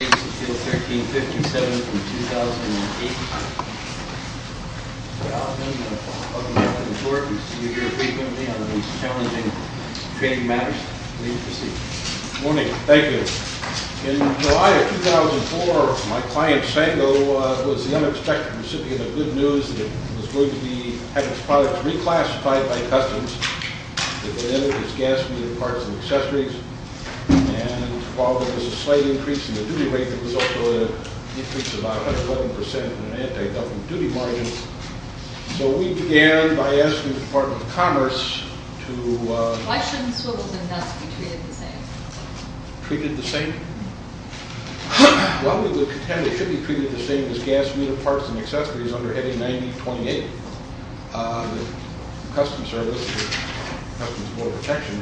Date of sale, 1357 from 2008. Mr. Altman, welcome back on the floor. We see you here frequently on the most challenging trade matters. Please proceed. Good morning. Thank you. In July of 2004, my client, Sango, was the unexpected recipient of good news that it was going to have its products reclassified by customs. It would enter its gas-fueled parts and accessories. And while there was a slight increase in the duty rate, there was also an increase of about 111% in the anti-dumping duty margin. So we began by asking the Department of Commerce to… Why shouldn't swivels and nuts be treated the same? Treated the same? Well, we would contend they should be treated the same as gas-fueled parts and accessories under Heading 9028. The Customs Service, Customs and Border Protection,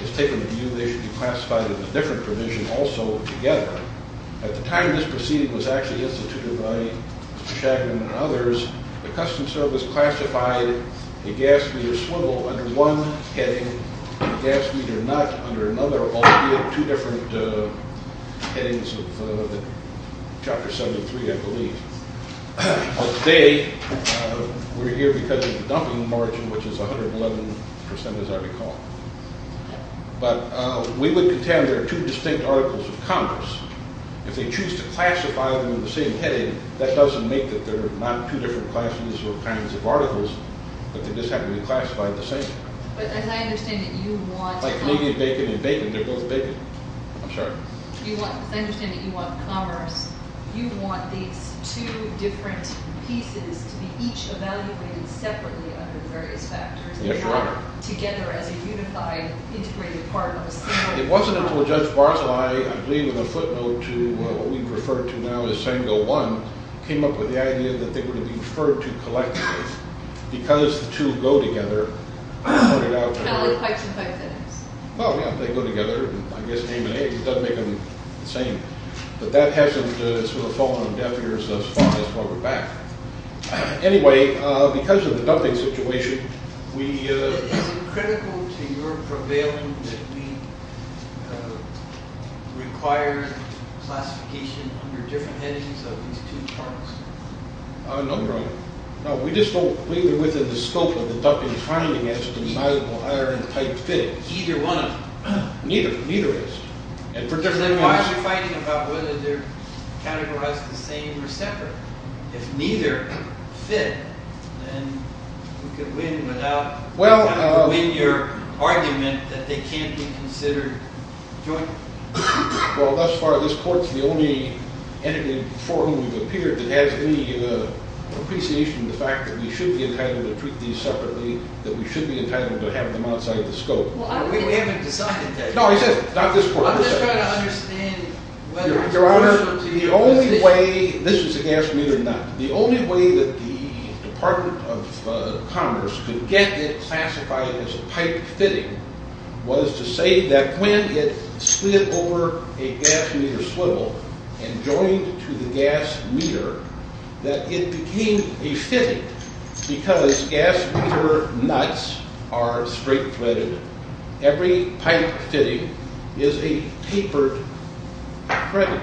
has taken the view they should be classified under a different provision also together. At the time this proceeding was actually instituted by Mr. Shagman and others, the Customs Service classified a gas-fueled swivel under one heading and a gas-fueled nut under another, but today we're here because of the dumping margin, which is 111%, as I recall. But we would contend there are two distinct articles of commerce. If they choose to classify them in the same heading, that doesn't make that they're not two different classes or kinds of articles, but they just happen to be classified the same. But as I understand it, you want… Like meat and bacon and bacon, they're both bacon. I'm sorry. As I understand it, you want commerce. You want these two different pieces to be each evaluated separately under various factors. They're not together as a unified, integrated part of the same item. It wasn't until Judge Barzilay, I believe in a footnote to what we refer to now as Sango 1, came up with the idea that they were to be referred to collectively. Because the two go together, he pointed out… Kind of like pipes and pipe fittings. Well, yeah, they go together. I guess name and age doesn't make them the same. But that hasn't sort of fallen on deaf ears thus far. That's why we're back. Anyway, because of the dumping situation, we… Is it critical to your prevailing that we require classification under different headings of these two charts? No, no. No, we just don't. Neither within the scope of the dumping finding has to be an iron pipe fitting. Neither one of them. Neither is. Then why are you fighting about whether they're categorized the same or separate? If neither fit, then we could win without having to win your argument that they can't be considered jointly. Well, thus far, this court's the only entity before whom we've appeared that has any appreciation of the fact that we should be entitled to treat these separately, that we should be entitled to have them outside the scope. We haven't decided that yet. No, not this court. I'm just trying to understand whether… Your Honor, the only way… This is a gas meter nut. The only way that the Department of Commerce could get it classified as a pipe fitting was to say that when it slid over a gas meter swivel and joined to the gas meter, that it became a fitting because gas meter nuts are straight threaded. Every pipe fitting is a tapered thread.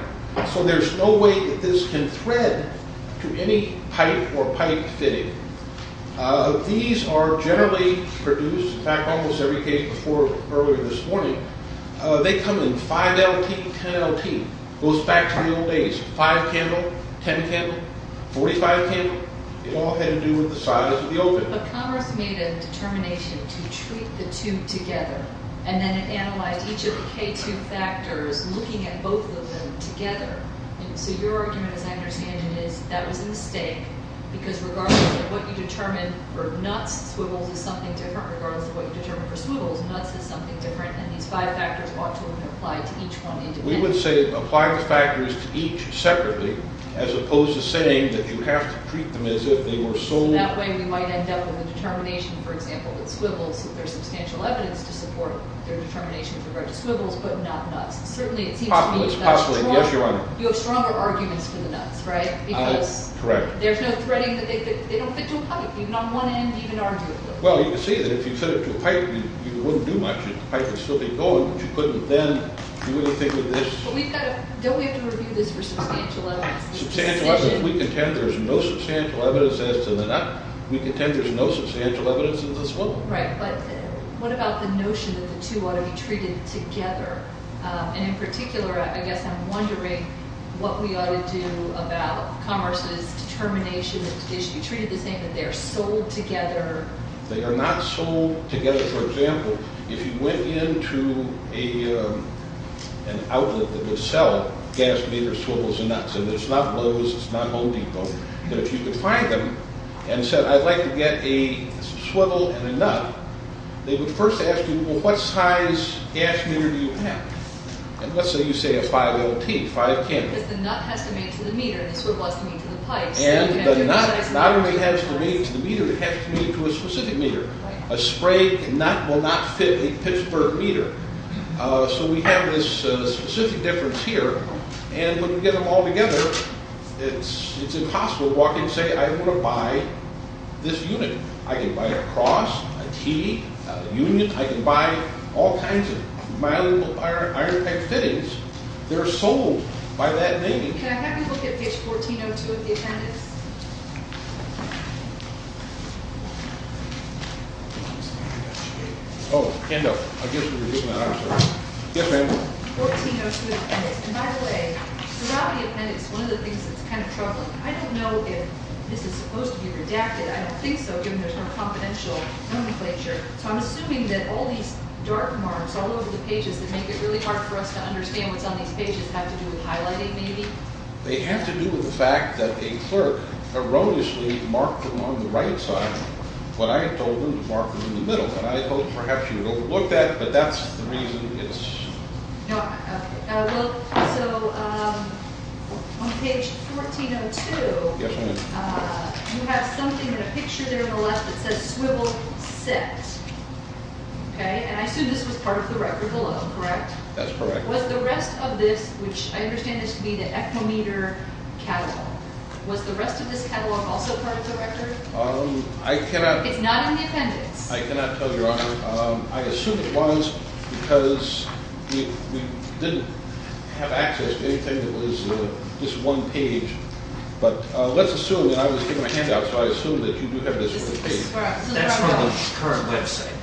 So there's no way that this can thread to any pipe or pipe fitting. These are generally produced. In fact, almost every case before earlier this morning, they come in 5LT, 10LT, goes back to the old days, 5-candle, 10-candle, 45-candle. It all had to do with the size of the opening. But Commerce made a determination to treat the two together, and then it analyzed each of the K2 factors, looking at both of them together. So your argument, as I understand it, is that was a mistake because regardless of what you determine for nuts, swivels is something different. Regardless of what you determine for swivels, nuts is something different, and these five factors ought to have been applied to each one independently. We would say apply the factors to each separately as opposed to saying that you have to treat them as if they were sold. That way we might end up with a determination, for example, that swivels, there's substantial evidence to support their determination with regard to swivels but not nuts. Certainly it seems to me that… Possibly, yes, Your Honor. You have stronger arguments for the nuts, right? Correct. There's no threading. They don't fit to a pipe, even on one end, even arguably. Well, you can see that if you fit it to a pipe, you wouldn't do much. The pipe would still be going, but you couldn't then do anything with this. But we've got to… Don't we have to review this for substantial evidence? Substantial evidence. We contend there's no substantial evidence as to the nut. We contend there's no substantial evidence in the swivel. Right, but what about the notion that the two ought to be treated together? And in particular, I guess I'm wondering what we ought to do about Commerce's determination that it should be treated the same, that they're sold together. They are not sold together. For example, if you went into an outlet that would sell gas meter swivels and nuts, and it's not Lowe's, it's not Home Depot, but if you could find them and said, I'd like to get a swivel and a nut, they would first ask you, well, what size gas meter do you have? And let's say you say a 5LT, 5K. Because the nut has to meet to the meter, the swivel has to meet to the pipes. And the nut not only has to meet to the meter, it has to meet to a specific meter. A spray nut will not fit a Pittsburgh meter. So we have this specific difference here. And when you get them all together, it's impossible to walk in and say, I want to buy this unit. I can buy a cross, a T, a union. I can buy all kinds of malleable iron pipe fittings. They're sold by that name. Can I have you look at page 1402 of the appendix? 1402 of the appendix. And by the way, throughout the appendix, one of the things that's kind of troubling, I don't know if this is supposed to be redacted. I don't think so, given there's no confidential nomenclature. So I'm assuming that all these dark marks all over the pages that make it really hard for us to understand what's on these pages have to do with highlighting, maybe? They have to do with the fact that a clerk erroneously marked them on the right side when I had told them to mark them in the middle. And I hope perhaps you don't look at it, but that's the reason it's... No, okay. Well, so on page 1402... Yes, ma'am. You have something in a picture there on the left that says swivel set. Okay, and I assume this was part of the record alone, correct? That's correct. Was the rest of this, which I understand this to be the ectometer catalog, was the rest of this catalog also part of the record? I cannot... It's not in the appendix? I cannot tell, Your Honor. I assume it was because we didn't have access to anything that was this one page. But let's assume, and I was taking my hand out, so I assume that you do have this in the page. That's from the current website.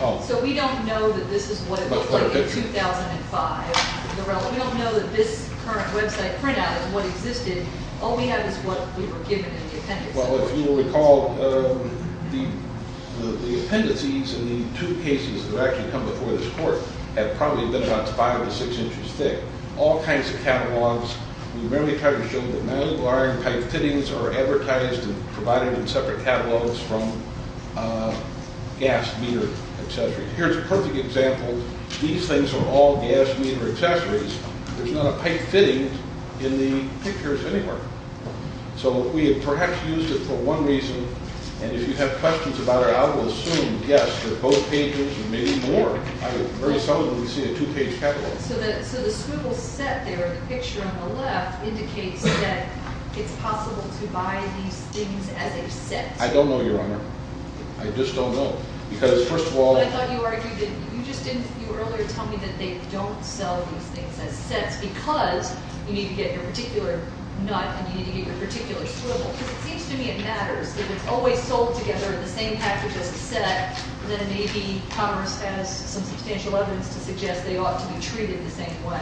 Oh. So we don't know that this is what it looked like in 2005. We don't know that this current website printout is what existed. All we have is what we were given in the appendix. Well, if you will recall, the appendices in the two cases that actually come before this court have probably been about five to six inches thick. All kinds of catalogs. We merely tried to show that manual iron pipe fittings are advertised and provided in separate catalogs from gas meter accessories. Here's a perfect example. These things are all gas meter accessories. There's not a pipe fitting in the pictures anywhere. So we have perhaps used it for one reason, and if you have questions about it, I will assume, yes, that both pages or maybe more. I have very seldomly seen a two-page catalog. So the scribble set there, the picture on the left, indicates that it's possible to buy these things as a set. I don't know, Your Honor. I just don't know. Because, first of all, I thought you argued that you just didn't, you earlier told me that they don't sell these things as sets because you need to get your particular nut and you need to get your particular scribble. Because it seems to me it matters that it's always sold together in the same package as a set, that maybe commerce has some substantial evidence to suggest they ought to be treated the same way.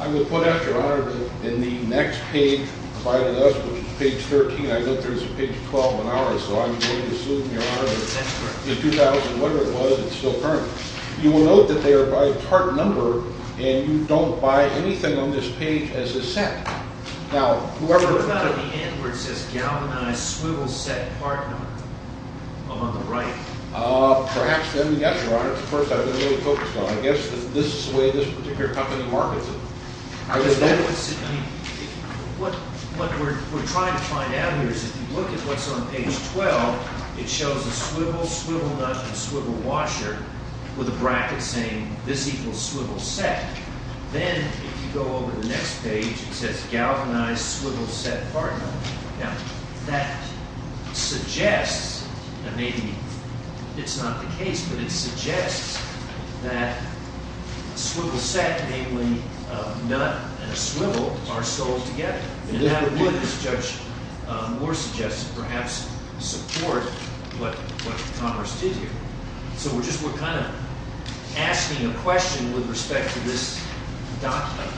I would put that, Your Honor, in the next page provided to us, which is page 13. I note there's a page 12 on ours, so I'm going to assume, Your Honor, that in 2000, whatever it was, it's still current. You will note that they are by part number, and you don't buy anything on this page as a set. Now, whoever— What about at the end where it says galvanized swivel set part number on the right? Perhaps then, yes, Your Honor. That's the first I've been really focused on. I guess this is the way this particular company markets it. What we're trying to find out here is if you look at what's on page 12, it shows a swivel, swivel nut, and swivel washer with a bracket saying this equals swivel set. Then if you go over to the next page, it says galvanized swivel set part number. Now, that suggests that maybe it's not the case, but it suggests that swivel set, namely a nut and a swivel, are sold together. And that would, as Judge Moore suggested, perhaps support what Congress did here. So we're just—we're kind of asking a question with respect to this document.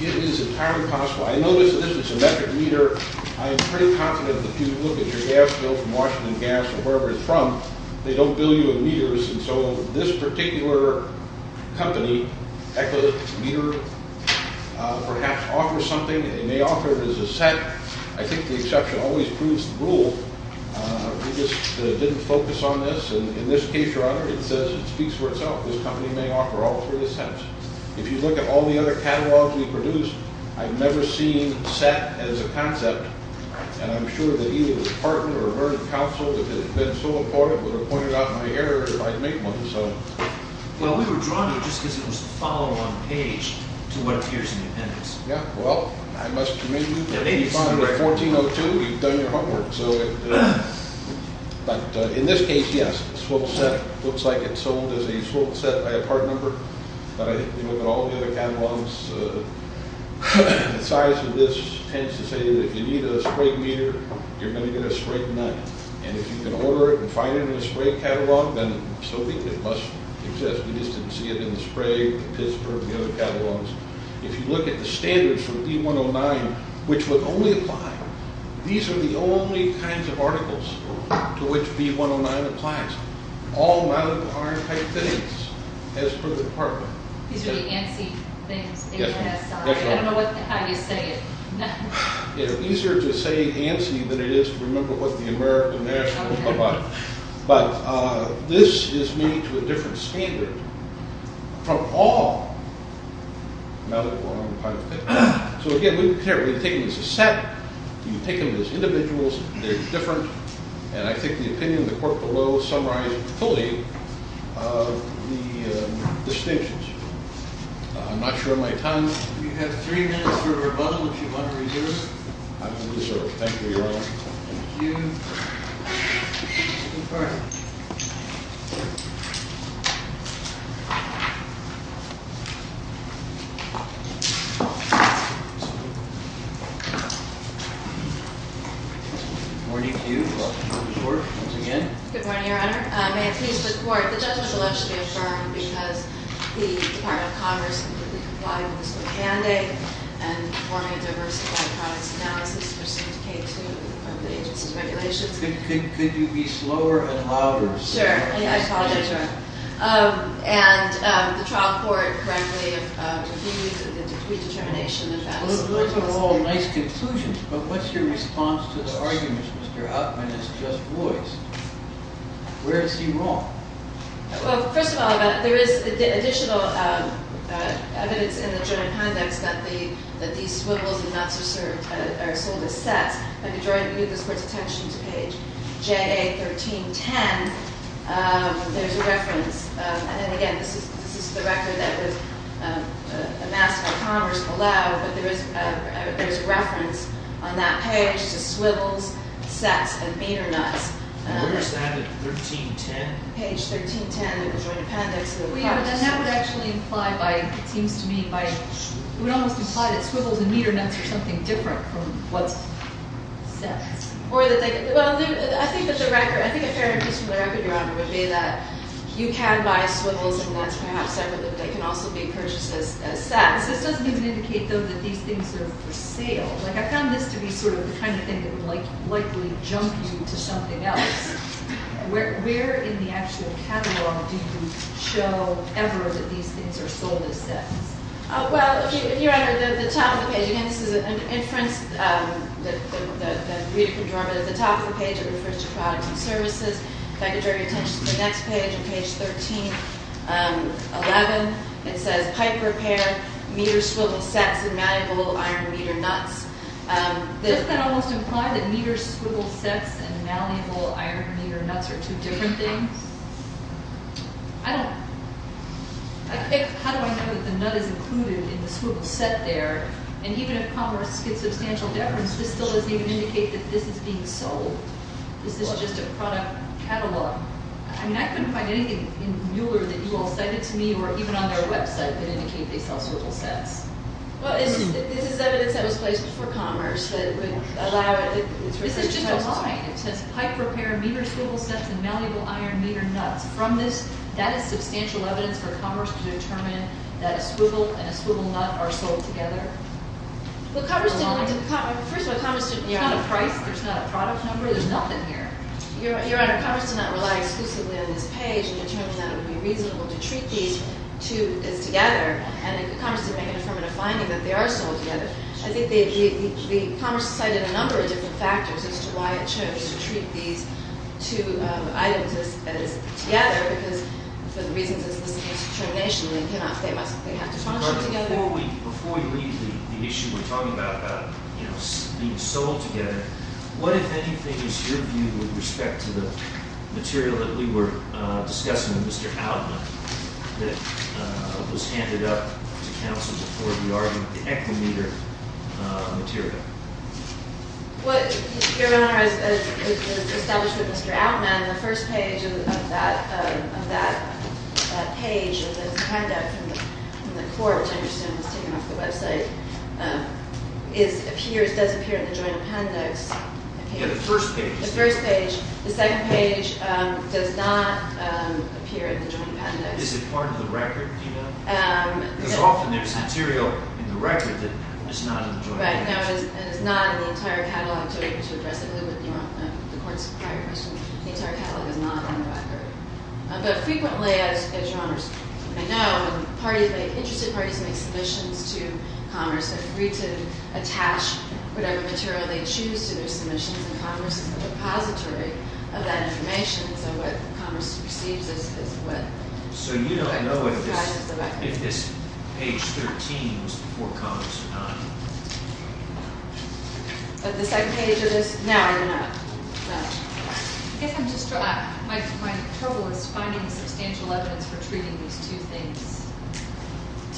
It is entirely possible. So I notice that this is a metric meter. I am pretty confident that if you look at your gas bill from Washington Gas or wherever it's from, they don't bill you in meters. And so this particular company, Eko Meter, perhaps offers something, and they may offer it as a set. I think the exception always proves the rule. We just didn't focus on this. And in this case, Your Honor, it says it speaks for itself. This company may offer all three sets. If you look at all the other catalogs we've produced, I've never seen set as a concept. And I'm sure that either the department or Vernon Council, if it had been so important, would have pointed out my error if I'd made one. Well, we were drawn to it just because it was the follow-on page to what appears in the appendix. Yeah, well, I must commend you. At 8500-1402, you've done your homework. But in this case, yes, swivel set. It looks like it's sold as a swivel set by a part number. But I think if you look at all the other catalogs, the size of this tends to say that if you need a spray meter, you're going to get a spray knife. And if you can order it and find it in a spray catalog, then so be it. It must exist. We just didn't see it in the spray, the Pittsburgh, the other catalogs. If you look at the standards for B109, which would only apply, these are the only kinds of articles to which B109 applies. All medical arm type things, as per the department. These are the ANSI things. I don't know how you say it. It's easier to say ANSI than it is to remember what the American National Library. But this is made to a different standard from all medical arm type things. So, again, we take them as a set. You take them as individuals. They're different. And I think the opinion of the court below summarizes fully the distinctions. I'm not sure of my time. If you have three minutes for rebuttal, if you want to reserve. I will reserve. Thank you, Your Honor. Thank you. Confer. Good morning to you. Welcome to the court once again. Good morning, Your Honor. May it please the court. The judgment will actually be affirmed because the Department of Congress completely complied with this little mandate and forming a diversified products analysis to syndicate to the agency's regulations. Could you be slower and louder? I apologize, Your Honor. And the trial court correctly refused the redetermination of that. Those are all nice conclusions, but what's your response to the arguments Mr. Huffman has just voiced? Where is he wrong? Well, first of all, there is additional evidence in the jury context that these swivels and nuts are sold as sets. If you move this court's attention to page JA 1310, there's a reference. And then again, this is the record that was amassed by Congress below. But there is a reference on that page to swivels, sets, and meter nuts. Where is that? 1310? Page 1310 of the Joint Appendix of the Congress. That would actually imply by, it seems to me, it would almost imply that swivels and meter nuts are something different from what's set. I think a fair piece from the record, Your Honor, would be that you can buy swivels and nuts perhaps separately, but they can also be purchased as sets. This doesn't even indicate, though, that these things are for sale. Like, I found this to be sort of the kind of thing that would likely jump you to something else. Where in the actual catalog do you show ever that these things are sold as sets? Well, Your Honor, the top of the page, again, this is an inference that Rita can draw, but at the top of the page it refers to products and services. If I could draw your attention to the next page on page 1311, it says, Pipe repair, meter swivel sets, and malleable iron meter nuts. Doesn't that almost imply that meter swivel sets and malleable iron meter nuts are two different things? I don't, how do I know that the nut is included in the swivel set there? And even if Congress gets substantial deference, this still doesn't even indicate that this is being sold. This is just a product catalog. I mean, I couldn't find anything in Mueller that you all cited to me or even on their website that indicate they sell swivel sets. Well, this is evidence that was placed before Commerce that would allow it. This is just a line. It says, pipe repair, meter swivel sets, and malleable iron meter nuts. From this, that is substantial evidence for Commerce to determine that a swivel and a swivel nut are sold together. Well, Congress didn't, first of all, Commerce didn't, there's not a price, there's not a product number, there's nothing here. Your Honor, Commerce did not rely exclusively on this page and determine that it would be reasonable to treat these two as together. And Commerce did make an affirmative finding that they are sold together. I think the Commerce cited a number of different factors as to why it chose to treat these two items as together, because for the reasons of this case determination, they cannot, they must, they have to function together. Before we leave the issue we're talking about about being sold together, what, if anything, is your view with respect to the material that we were discussing with Mr. Outman that was handed up to counsel before the argument, the echo meter material? Well, Your Honor, as established with Mr. Outman, the first page of that page, and there's a handout from the court, which I understand was taken off the website, is, appears, does appear in the joint appendix. Yeah, the first page. The first page. The second page does not appear in the joint appendix. Is it part of the record, do you know? Because often there's material in the record that is not in the joint appendix. Right, and it's not in the entire catalog to address the court's prior question. The entire catalog is not on the record. But frequently, as Your Honor, I know, parties make, interested parties make submissions to Commerce and agree to attach whatever material they choose to their submissions, and Commerce is a repository of that information, so what Commerce receives is what- So you don't know if this page 13 was before Commerce or not? But the second page of this, no, Your Honor, no. I guess I'm just, my trouble is finding substantial evidence for treating these two things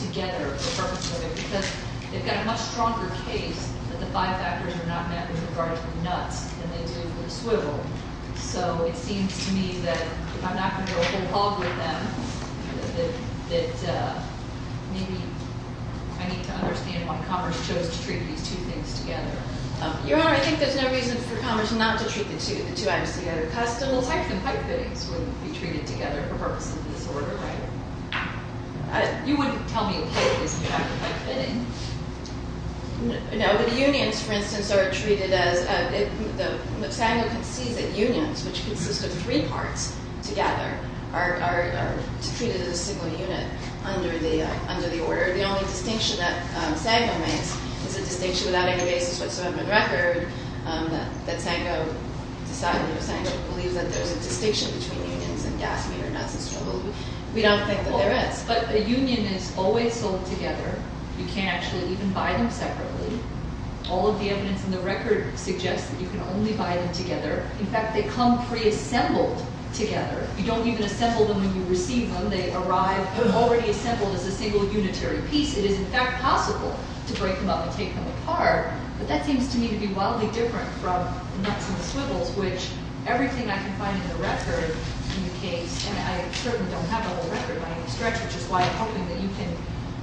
together, the purpose of it, because they've got a much stronger case that the five factors are not met with regard to the nuts than they do with the swivel, so it seems to me that if I'm not going to go whole hog with them, that maybe I need to understand why Commerce chose to treat these two things together. Your Honor, I think there's no reason for Commerce not to treat the two items together, because the little types of pipe fittings wouldn't be treated together for purposes of disorder, right? You wouldn't tell me a pipe isn't a type of pipe fitting. No, but unions, for instance, are treated as- Sango concedes that unions, which consist of three parts together, are treated as a single unit under the order. The only distinction that Sango makes is a distinction without any basis whatsoever in the record, that Sango believes that there's a distinction between unions and gas meter nuts and swivel. We don't think that there is. Yes, but a union is always sold together. You can't actually even buy them separately. All of the evidence in the record suggests that you can only buy them together. In fact, they come preassembled together. You don't even assemble them when you receive them. They arrive already assembled as a single unitary piece. It is, in fact, possible to break them up and take them apart, but that seems to me to be wildly different from nuts and swivels, which everything I can find in the record in the case, and I certainly don't have a whole record by any stretch, which is why I'm hoping that you can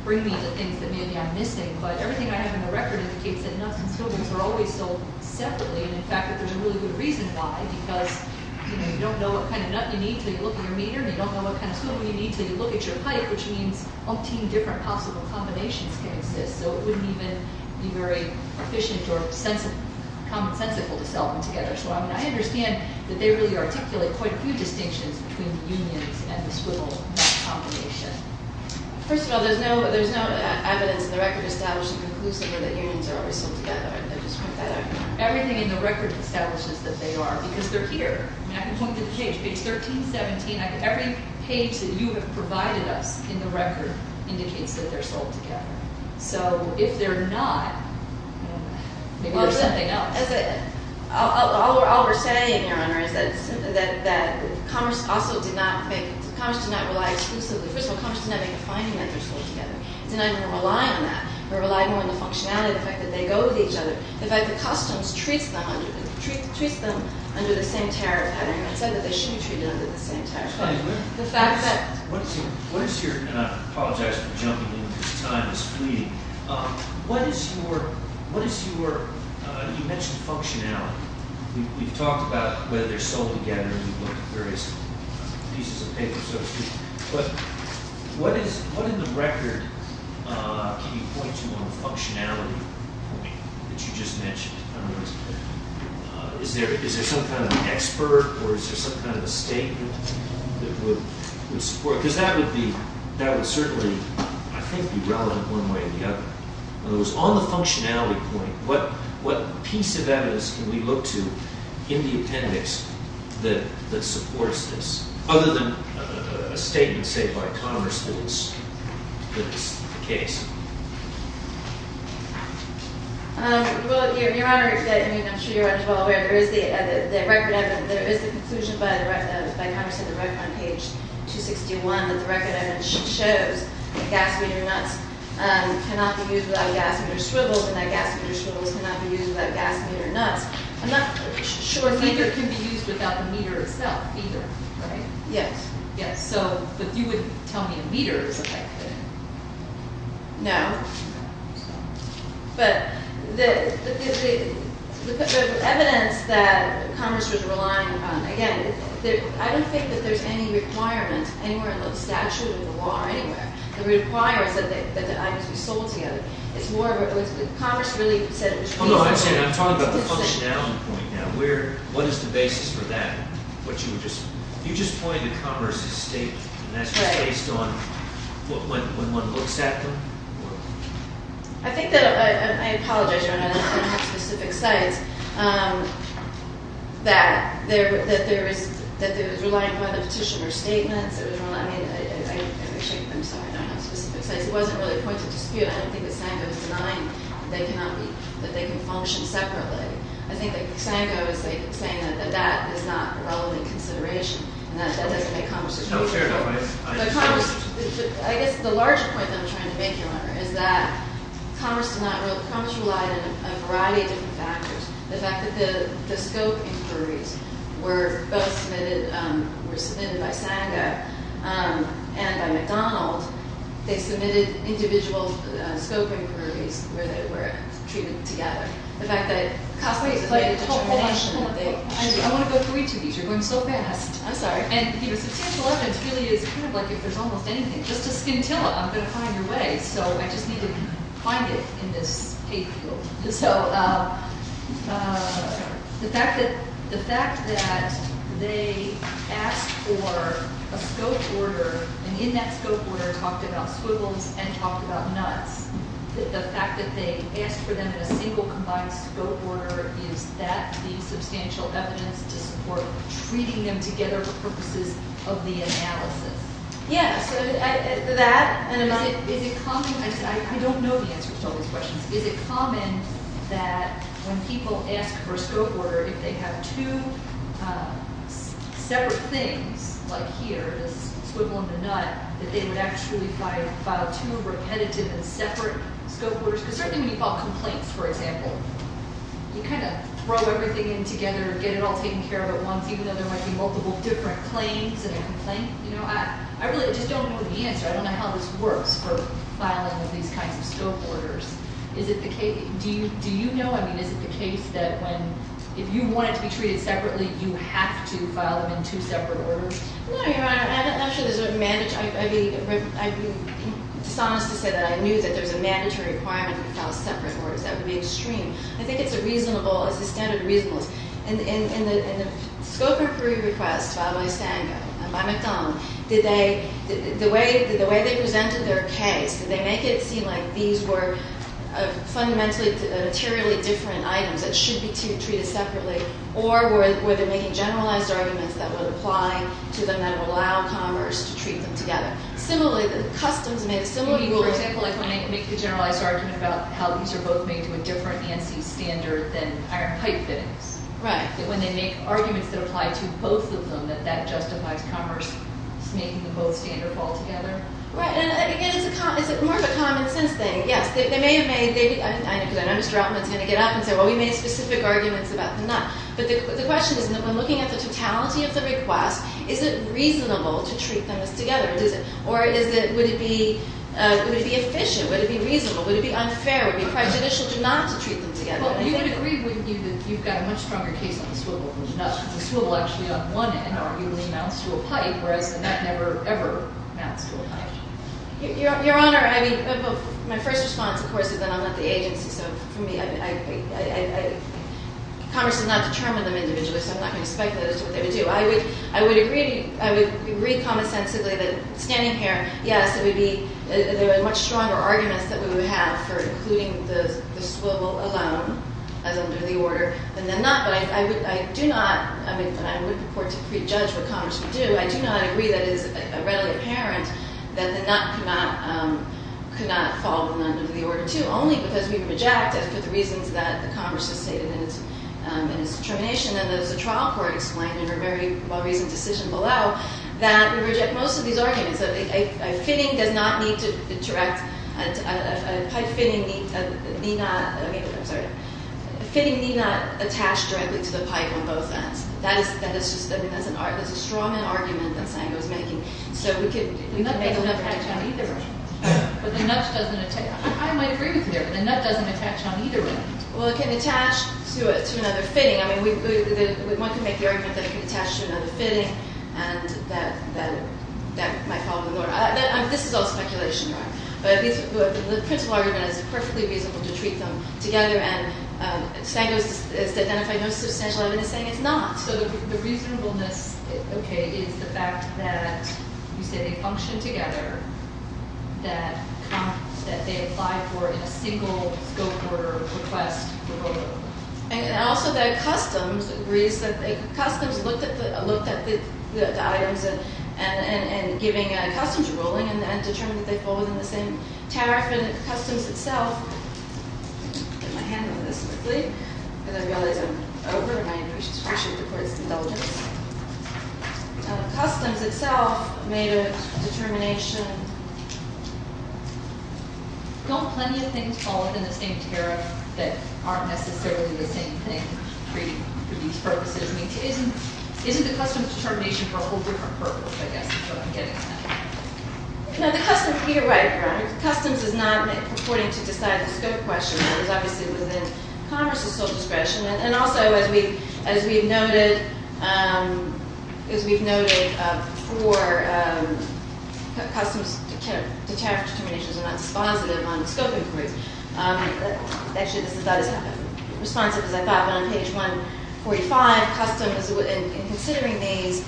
bring me the things that maybe I'm missing, but everything I have in the record indicates that nuts and swivels are always sold separately, and in fact that there's a really good reason why, because you don't know what kind of nut you need until you look at your meter, and you don't know what kind of swivel you need until you look at your pipe, which means umpteen different possible combinations can exist, so it wouldn't even be very efficient or common-sensical to sell them together. So I understand that they really articulate quite a few distinctions between the unions and the swivel nut combination. First of all, there's no evidence in the record to establish the conclusion that unions are always sold together. I just want to point that out. Everything in the record establishes that they are, because they're here. I can point to the page, page 1317. Every page that you have provided us in the record indicates that they're sold together. So if they're not, maybe there's something else. All we're saying, Your Honor, is that commerce also did not make, commerce did not rely exclusively, first of all, commerce did not make a finding that they're sold together. It did not even rely on that or rely more on the functionality, the fact that they go with each other. In fact, the customs treats them under the same tariff pattern and said that they should be treated under the same tariff pattern. The fact that… What is your, and I apologize for jumping in because time is fleeting, what is your, you mentioned functionality. We've talked about whether they're sold together. We've looked at various pieces of paper, so to speak. But what in the record can you point to on the functionality that you just mentioned? Is there some kind of expert or is there some kind of a statement that would support it? Because that would be, that would certainly, I think, be relevant one way or the other. In other words, on the functionality point, what piece of evidence can we look to in the appendix that supports this? Other than a statement, say, by commerce that it's the case. Well, Your Honor, I'm sure you're well aware, there is the conclusion by commerce in the record on page 261 that the record evidence shows that gas meter nuts cannot be used without gas meter swivels and that gas meter swivels cannot be used without gas meter nuts. I'm not sure… Neither can be used without the meter itself either, right? Yes. Yes, so, but you wouldn't tell me a meter is affected. No. But the evidence that commerce was relying on, again, I don't think that there's any requirement anywhere in the statute or in the law or anywhere that requires that the items be sold together. It's more of a, commerce really said it was reasonable. Hold on a second, I'm talking about the functionality point now. What is the basis for that? What you were just, you just pointed to commerce's statement and that's based on when one looks at them? I think that, I apologize, Your Honor, I don't have specific sites, that there is, that it was relying upon the petitioner's statements, it was relying, I mean, I'm sorry, I don't have specific sites. It wasn't really a point of dispute. I don't think that Sango is denying that they cannot be, that they can function separately. I think that Sango is saying that that is not relevant consideration and that that doesn't make commerce a good company. But commerce, I guess the larger point that I'm trying to make here, Your Honor, is that commerce did not rely, commerce relied on a variety of different factors. The fact that the scope inquiries were both submitted, were submitted by Sango and by McDonald, they submitted individual scope inquiries where they were treated together. The fact that Cosme played a determining role in what they, I want to go through each of these. You're going so fast. I'm sorry. And, you know, substantial evidence really is kind of like if there's almost anything. Just a scintilla, I'm going to find your way. So I just need to find it in this paper. So the fact that, the fact that they asked for a scope order and in that scope order talked about squiggles and talked about nuts, the fact that they asked for them in a single combined scope order, is that the substantial evidence to support treating them together for purposes of the analysis? Yes. That? Is it common? I don't know the answer to all these questions. Is it common that when people ask for a scope order, if they have two separate things like here, a squiggle and a nut, that they would actually file two repetitive and separate scope orders? Because certainly when you file complaints, for example, you kind of throw everything in together, get it all taken care of at once, even though there might be multiple different claims in a complaint. You know, I really just don't know the answer. I don't know how this works for filing of these kinds of scope orders. Is it the case, do you know, I mean, is it the case that when, if you want it to be treated separately, you have to file them in two separate orders? No, Your Honor. I'm not sure there's a, I'd be dishonest to say that I knew that there was a mandatory requirement to file separate orders. That would be extreme. I think it's a reasonable, it's a standard reasonableness. In the scope approved request filed by Sango and by McDonald, did they, the way they presented their case, did they make it seem like these were fundamentally materially different items that should be treated separately, or were they making generalized arguments that would apply to them that would allow commerce to treat them together? Similarly, the customs made a similar rule. You mean, for example, like when they make the generalized argument about how these are both made to a different ANSI standard than iron pipe fittings? Right. That when they make arguments that apply to both of them, that that justifies commerce making them both standard altogether? Right, and again, it's more of a common sense thing. Yes, they may have made, because I know Mr. Altman's going to get up and say, well, we made specific arguments about the nut. But the question is, when looking at the totality of the request, is it reasonable to treat them as together? Or is it, would it be efficient? Would it be reasonable? Would it be unfair? Would it be prejudicial not to treat them together? Well, you would agree, wouldn't you, that you've got a much stronger case on the swivel. The swivel actually on one end, arguably, amounts to a pipe, whereas the nut never, ever amounts to a pipe. Your Honor, I mean, my first response, of course, is that I'm not the agency, so for me, commerce does not determine them individually, so I'm not going to speculate as to what they would do. I would agree commonsensically that, standing here, yes, there would be much stronger arguments that we would have for including the swivel alone as under the order than the nut. But I do not, I mean, I would purport to prejudge what commerce would do. I do not agree that it is readily apparent that the nut could not fall under the order, too, only because we reject it for the reasons that the commerce has stated in its determination, and as the trial court explained in her very well-reasoned decision below, that we reject most of these arguments. A fitting does not need to direct, a pipe fitting need not, I'm sorry, a fitting need not attach directly to the pipe on both ends. That is just, I mean, that's a stronger argument than Sango is making. So we could, the nut doesn't have to attach either way. But the nut doesn't attach, I might agree with you there, but the nut doesn't attach on either end. Well, it can attach to another fitting. I mean, one can make the argument that it can attach to another fitting and that that might fall under the order. This is all speculation. But the principle argument is perfectly reasonable to treat them together, and Sango has identified no substantial evidence saying it's not. So the reasonableness, okay, is the fact that you say they function together, that they apply for in a single scope order request. And also that customs agrees that customs looked at the items and giving customs a ruling and determined that they fall within the same tariff. And customs itself, let me get my hand on this quickly, because I realize I'm over, and I appreciate the court's indulgence. Customs itself made a determination, don't plenty of things fall within the same tariff that aren't necessarily the same thing for these purposes? I mean, isn't the customs determination for a whole different purpose, I guess, is what I'm getting at. Now, the customs, you're right. The customs is not purporting to decide the scope question. It's obviously within Congress's social discretion. And also, as we've noted for customs, the tariff determinations are not dispositive on the scope inquiries. Actually, this is not as responsive as I thought, but on page 145, customs, in considering these,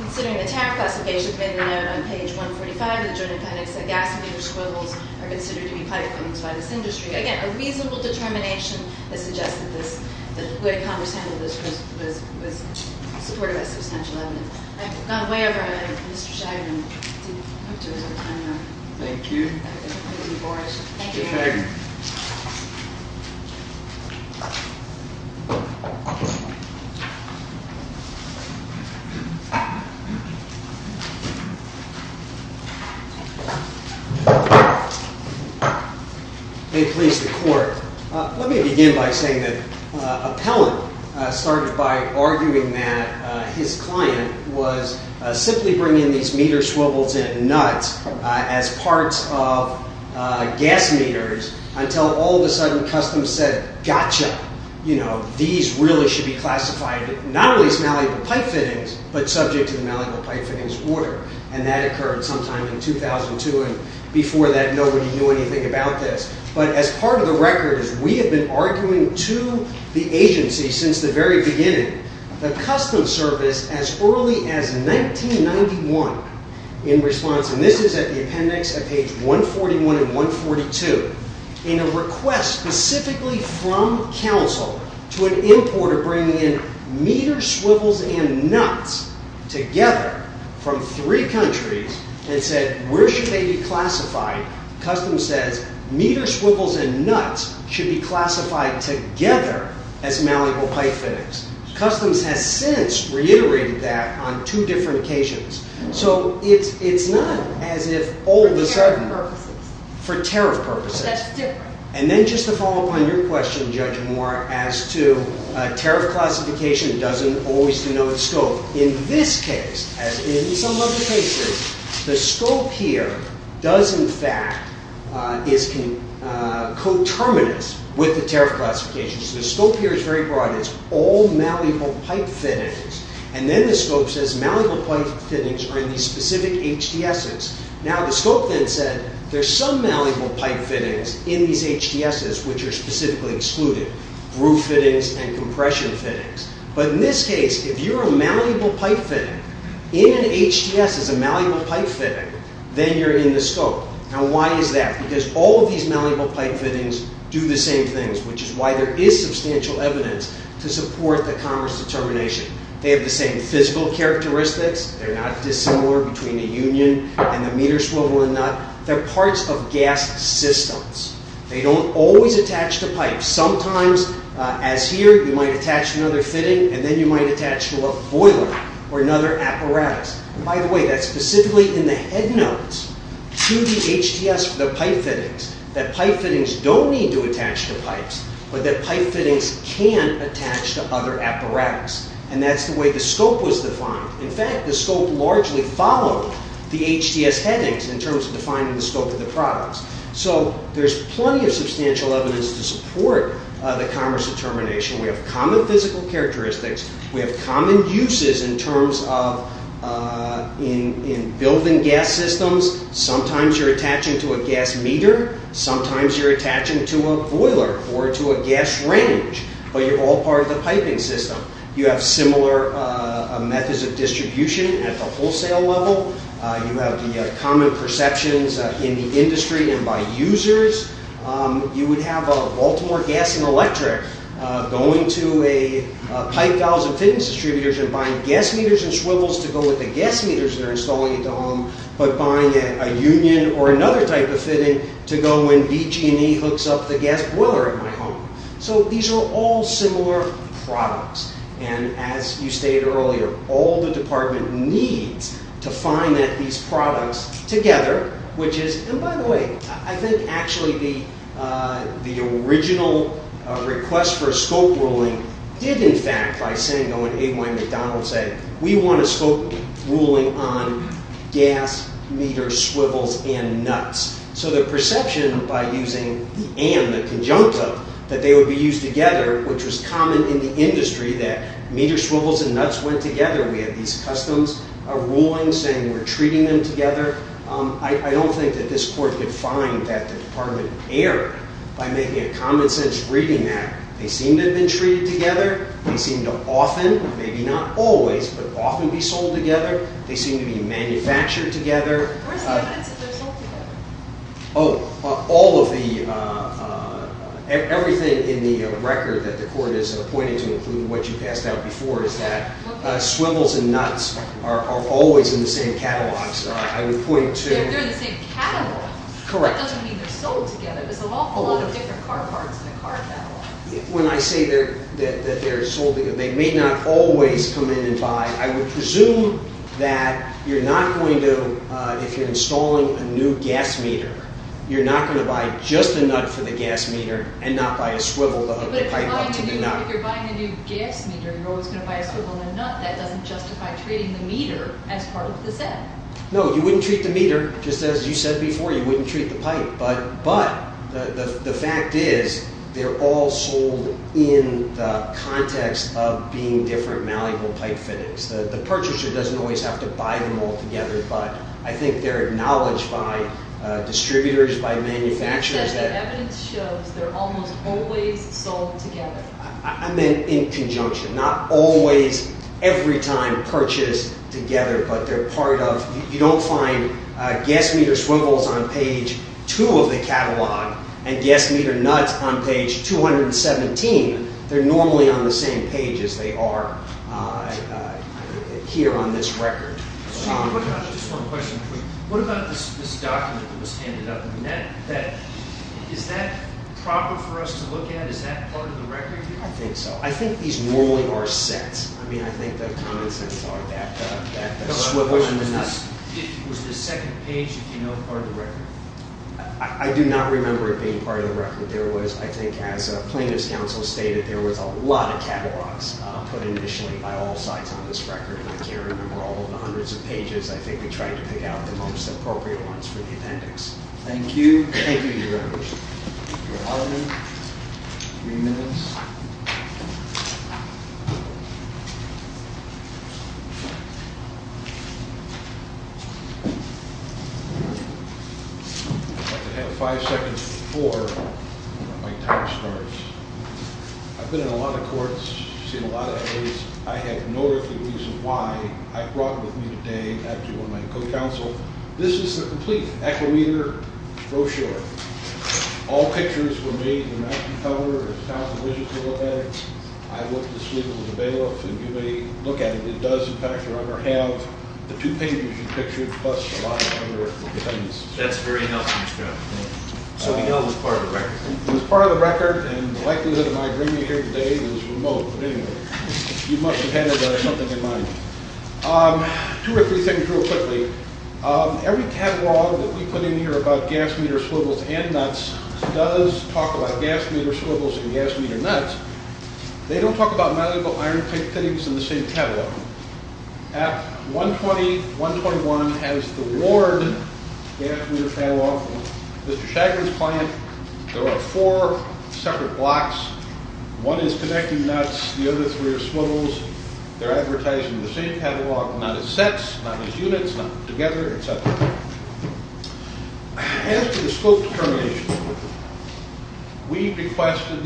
considering the tariff classifications made a note on page 145 of the Joint Appendix that gas-fueled squiggles are considered to be pipe fillings by this industry. Again, a reasonable determination that suggests that the way Congress handled this was supported by substantial evidence. I've gone way over my head. Mr. Shagan, I hope to have more time now. Thank you. Thank you. Mr. Shagan. May it please the Court, let me begin by saying that Appellant started by arguing that his client was simply bringing these meter swivels in nuts as parts of gas meters until all of a sudden customs said, gotcha, these really should be classified not only as malleable pipe fittings, but subject to the malleable pipe fittings order. And that occurred sometime in 2002. And before that, nobody knew anything about this. But as part of the record is we have been arguing to the agency since the very beginning that customs service as early as 1991 in response, and this is at the appendix at page 141 and 142, in a request specifically from counsel to an importer bringing in meter swivels and nuts together from three countries and said, where should they be classified? Customs says meter swivels and nuts should be classified together as malleable pipe fittings. Customs has since reiterated that on two different occasions. So it's not as if all of a sudden. For tariff purposes. For tariff purposes. That's different. And then just to follow up on your question, Judge Moore, as to tariff classification doesn't always denote scope. In this case, as in some other cases, the scope here does in fact is coterminous with the tariff classification. So the scope here is very broad. It's all malleable pipe fittings. And then the scope says malleable pipe fittings are in these specific HDSs. Now the scope then said there's some malleable pipe fittings in these HDSs, which are specifically excluded, roof fittings and compression fittings. But in this case, if you're a malleable pipe fitting, in an HDS is a malleable pipe fitting, then you're in the scope. Now why is that? Because all of these malleable pipe fittings do the same things, which is why there is substantial evidence to support the commerce determination. They have the same physical characteristics. They're not dissimilar between a union and the meter swivel and nut. They're parts of gas systems. They don't always attach to pipes. Sometimes, as here, you might attach another fitting, and then you might attach to a boiler or another apparatus. And by the way, that's specifically in the head notes to the HDS for the pipe fittings, that pipe fittings don't need to attach to pipes, but that pipe fittings can attach to other apparatus. And that's the way the scope was defined. In fact, the scope largely followed the HDS headings in terms of defining the scope of the products. So there's plenty of substantial evidence to support the commerce determination. We have common physical characteristics. We have common uses in terms of building gas systems. Sometimes you're attaching to a gas meter. Sometimes you're attaching to a boiler or to a gas range, but you're all part of the piping system. You have similar methods of distribution at the wholesale level. You have the common perceptions in the industry and by users. You would have a Baltimore Gas & Electric going to a pipe valves and fittings distributors and buying gas meters and swivels to go with the gas meters they're installing at the home, but buying a union or another type of fitting to go when BG&E hooks up the gas boiler at my home. So these are all similar products. And as you stated earlier, all the department needs to find that these products together, which is, and by the way, I think actually the original request for a scope ruling did in fact by Sango and A.Y. McDonald say, we want a scope ruling on gas meter swivels and nuts. So the perception by using the and, the conjuncta, that they would be used together, which was common in the industry that meter swivels and nuts went together. We had these customs rulings saying we're treating them together. I don't think that this court could find that the department err by making a common sense reading that they seem to have been treated together. They seem to often, maybe not always, but often be sold together. They seem to be manufactured together. Where's the evidence that they're sold together? Oh, all of the, everything in the record that the court is pointing to, including what you passed out before, is that swivels and nuts are always in the same catalogs. I would point to- They're in the same catalogs. Correct. That doesn't mean they're sold together. There's a whole lot of different car parts in the car catalogs. When I say that they're sold together, they may not always come in and buy. I would presume that you're not going to, if you're installing a new gas meter, you're not going to buy just the nut for the gas meter and not buy a swivel to hook the pipe up to the nut. But if you're buying a new gas meter, you're always going to buy a swivel and a nut. That doesn't justify treating the meter as part of the set. No, you wouldn't treat the meter just as you said before. You wouldn't treat the pipe. But the fact is they're all sold in the context of being different malleable pipe fittings. The purchaser doesn't always have to buy them all together. But I think they're acknowledged by distributors, by manufacturers that- As the evidence shows, they're almost always sold together. I meant in conjunction, not always, every time purchased together. You don't find gas meter swivels on page 2 of the catalog and gas meter nuts on page 217. They're normally on the same page as they are here on this record. Just one question. What about this document that was handed up? Is that proper for us to look at? Is that part of the record? I think so. I think these normally are sets. I mean, I think the common sense are that the swivel and the nuts- Was the second page, if you know, part of the record? I do not remember it being part of the record. I think as plaintiff's counsel stated, there was a lot of catalogs put initially by all sides on this record. And I can't remember all of the hundreds of pages. I think we tried to pick out the most appropriate ones for the appendix. Thank you. Thank you, Your Honor. Your Honor, three minutes. I'd like to have five seconds before my time starts. I've been in a lot of courts, seen a lot of evidence. I have no earthly reason why I brought with me today, after one of my co-counsel, this is the complete equimeter brochure. All pictures were made in the matching color. There's a thousand digits to look at it. I looked at the swivel and the bailiff, and you may look at it. It does, in fact, run or have the two pages you pictured, plus a lot of other things. That's very helpful, Mr. Allen. So we know it was part of the record. It was part of the record, and the likelihood of my bringing it here today is remote. But anyway, you must have had something in mind. Two or three things real quickly. Every catalog that we put in here about gas meter swivels and nuts does talk about gas meter swivels and gas meter nuts. They don't talk about malleable iron-type fittings in the same catalog. App 120-121 has the Lord gas meter catalog. Mr. Shaggard's client, there are four separate blocks. One is connecting nuts. The other three are swivels. They're advertised in the same catalog, not as sets, not as units, not together, et cetera. After the scope determination, we requested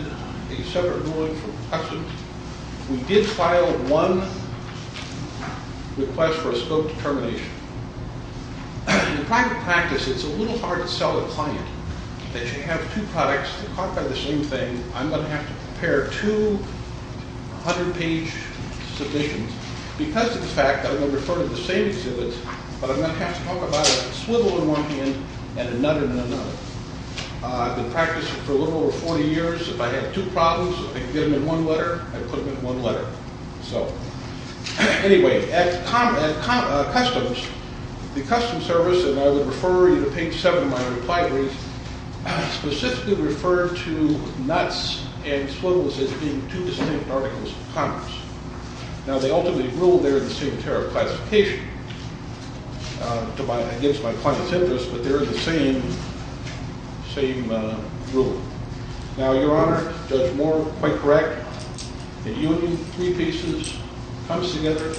a separate ruling from Customs. We did file one request for a scope determination. In private practice, it's a little hard to sell a client that you have two products. They're caught by the same thing. I'm going to have to prepare two 100-page submissions because of the fact that I'm going to refer to the same exhibits, but I'm going to have to talk about a swivel in one hand and a nut in another. I've been practicing for a little over 40 years. If I had two problems, I'd get them in one letter. I'd put them in one letter. Anyway, at Customs, the Customs Service, and I would refer you to page 7 of my reply brief, specifically referred to nuts and swivels as being two distinct articles of commerce. Now, they ultimately rule they're in the same tariff classification against my client's interest, but they're in the same ruling. Now, Your Honor, Judge Moore, quite correct. A union, three pieces, comes together.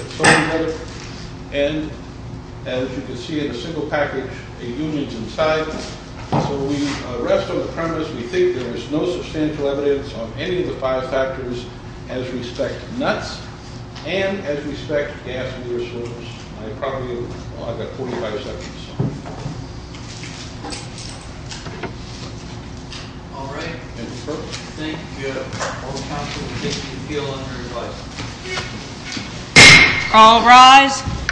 And as you can see in a single package, a union's inside. So the rest of the premise, we think there is no substantial evidence on any of the five factors as respect to nuts and as respect to gas in your service. I have 45 seconds. All right. Thank you, Your Honor. All counselors, if you feel under advised. Excuse me. All rise.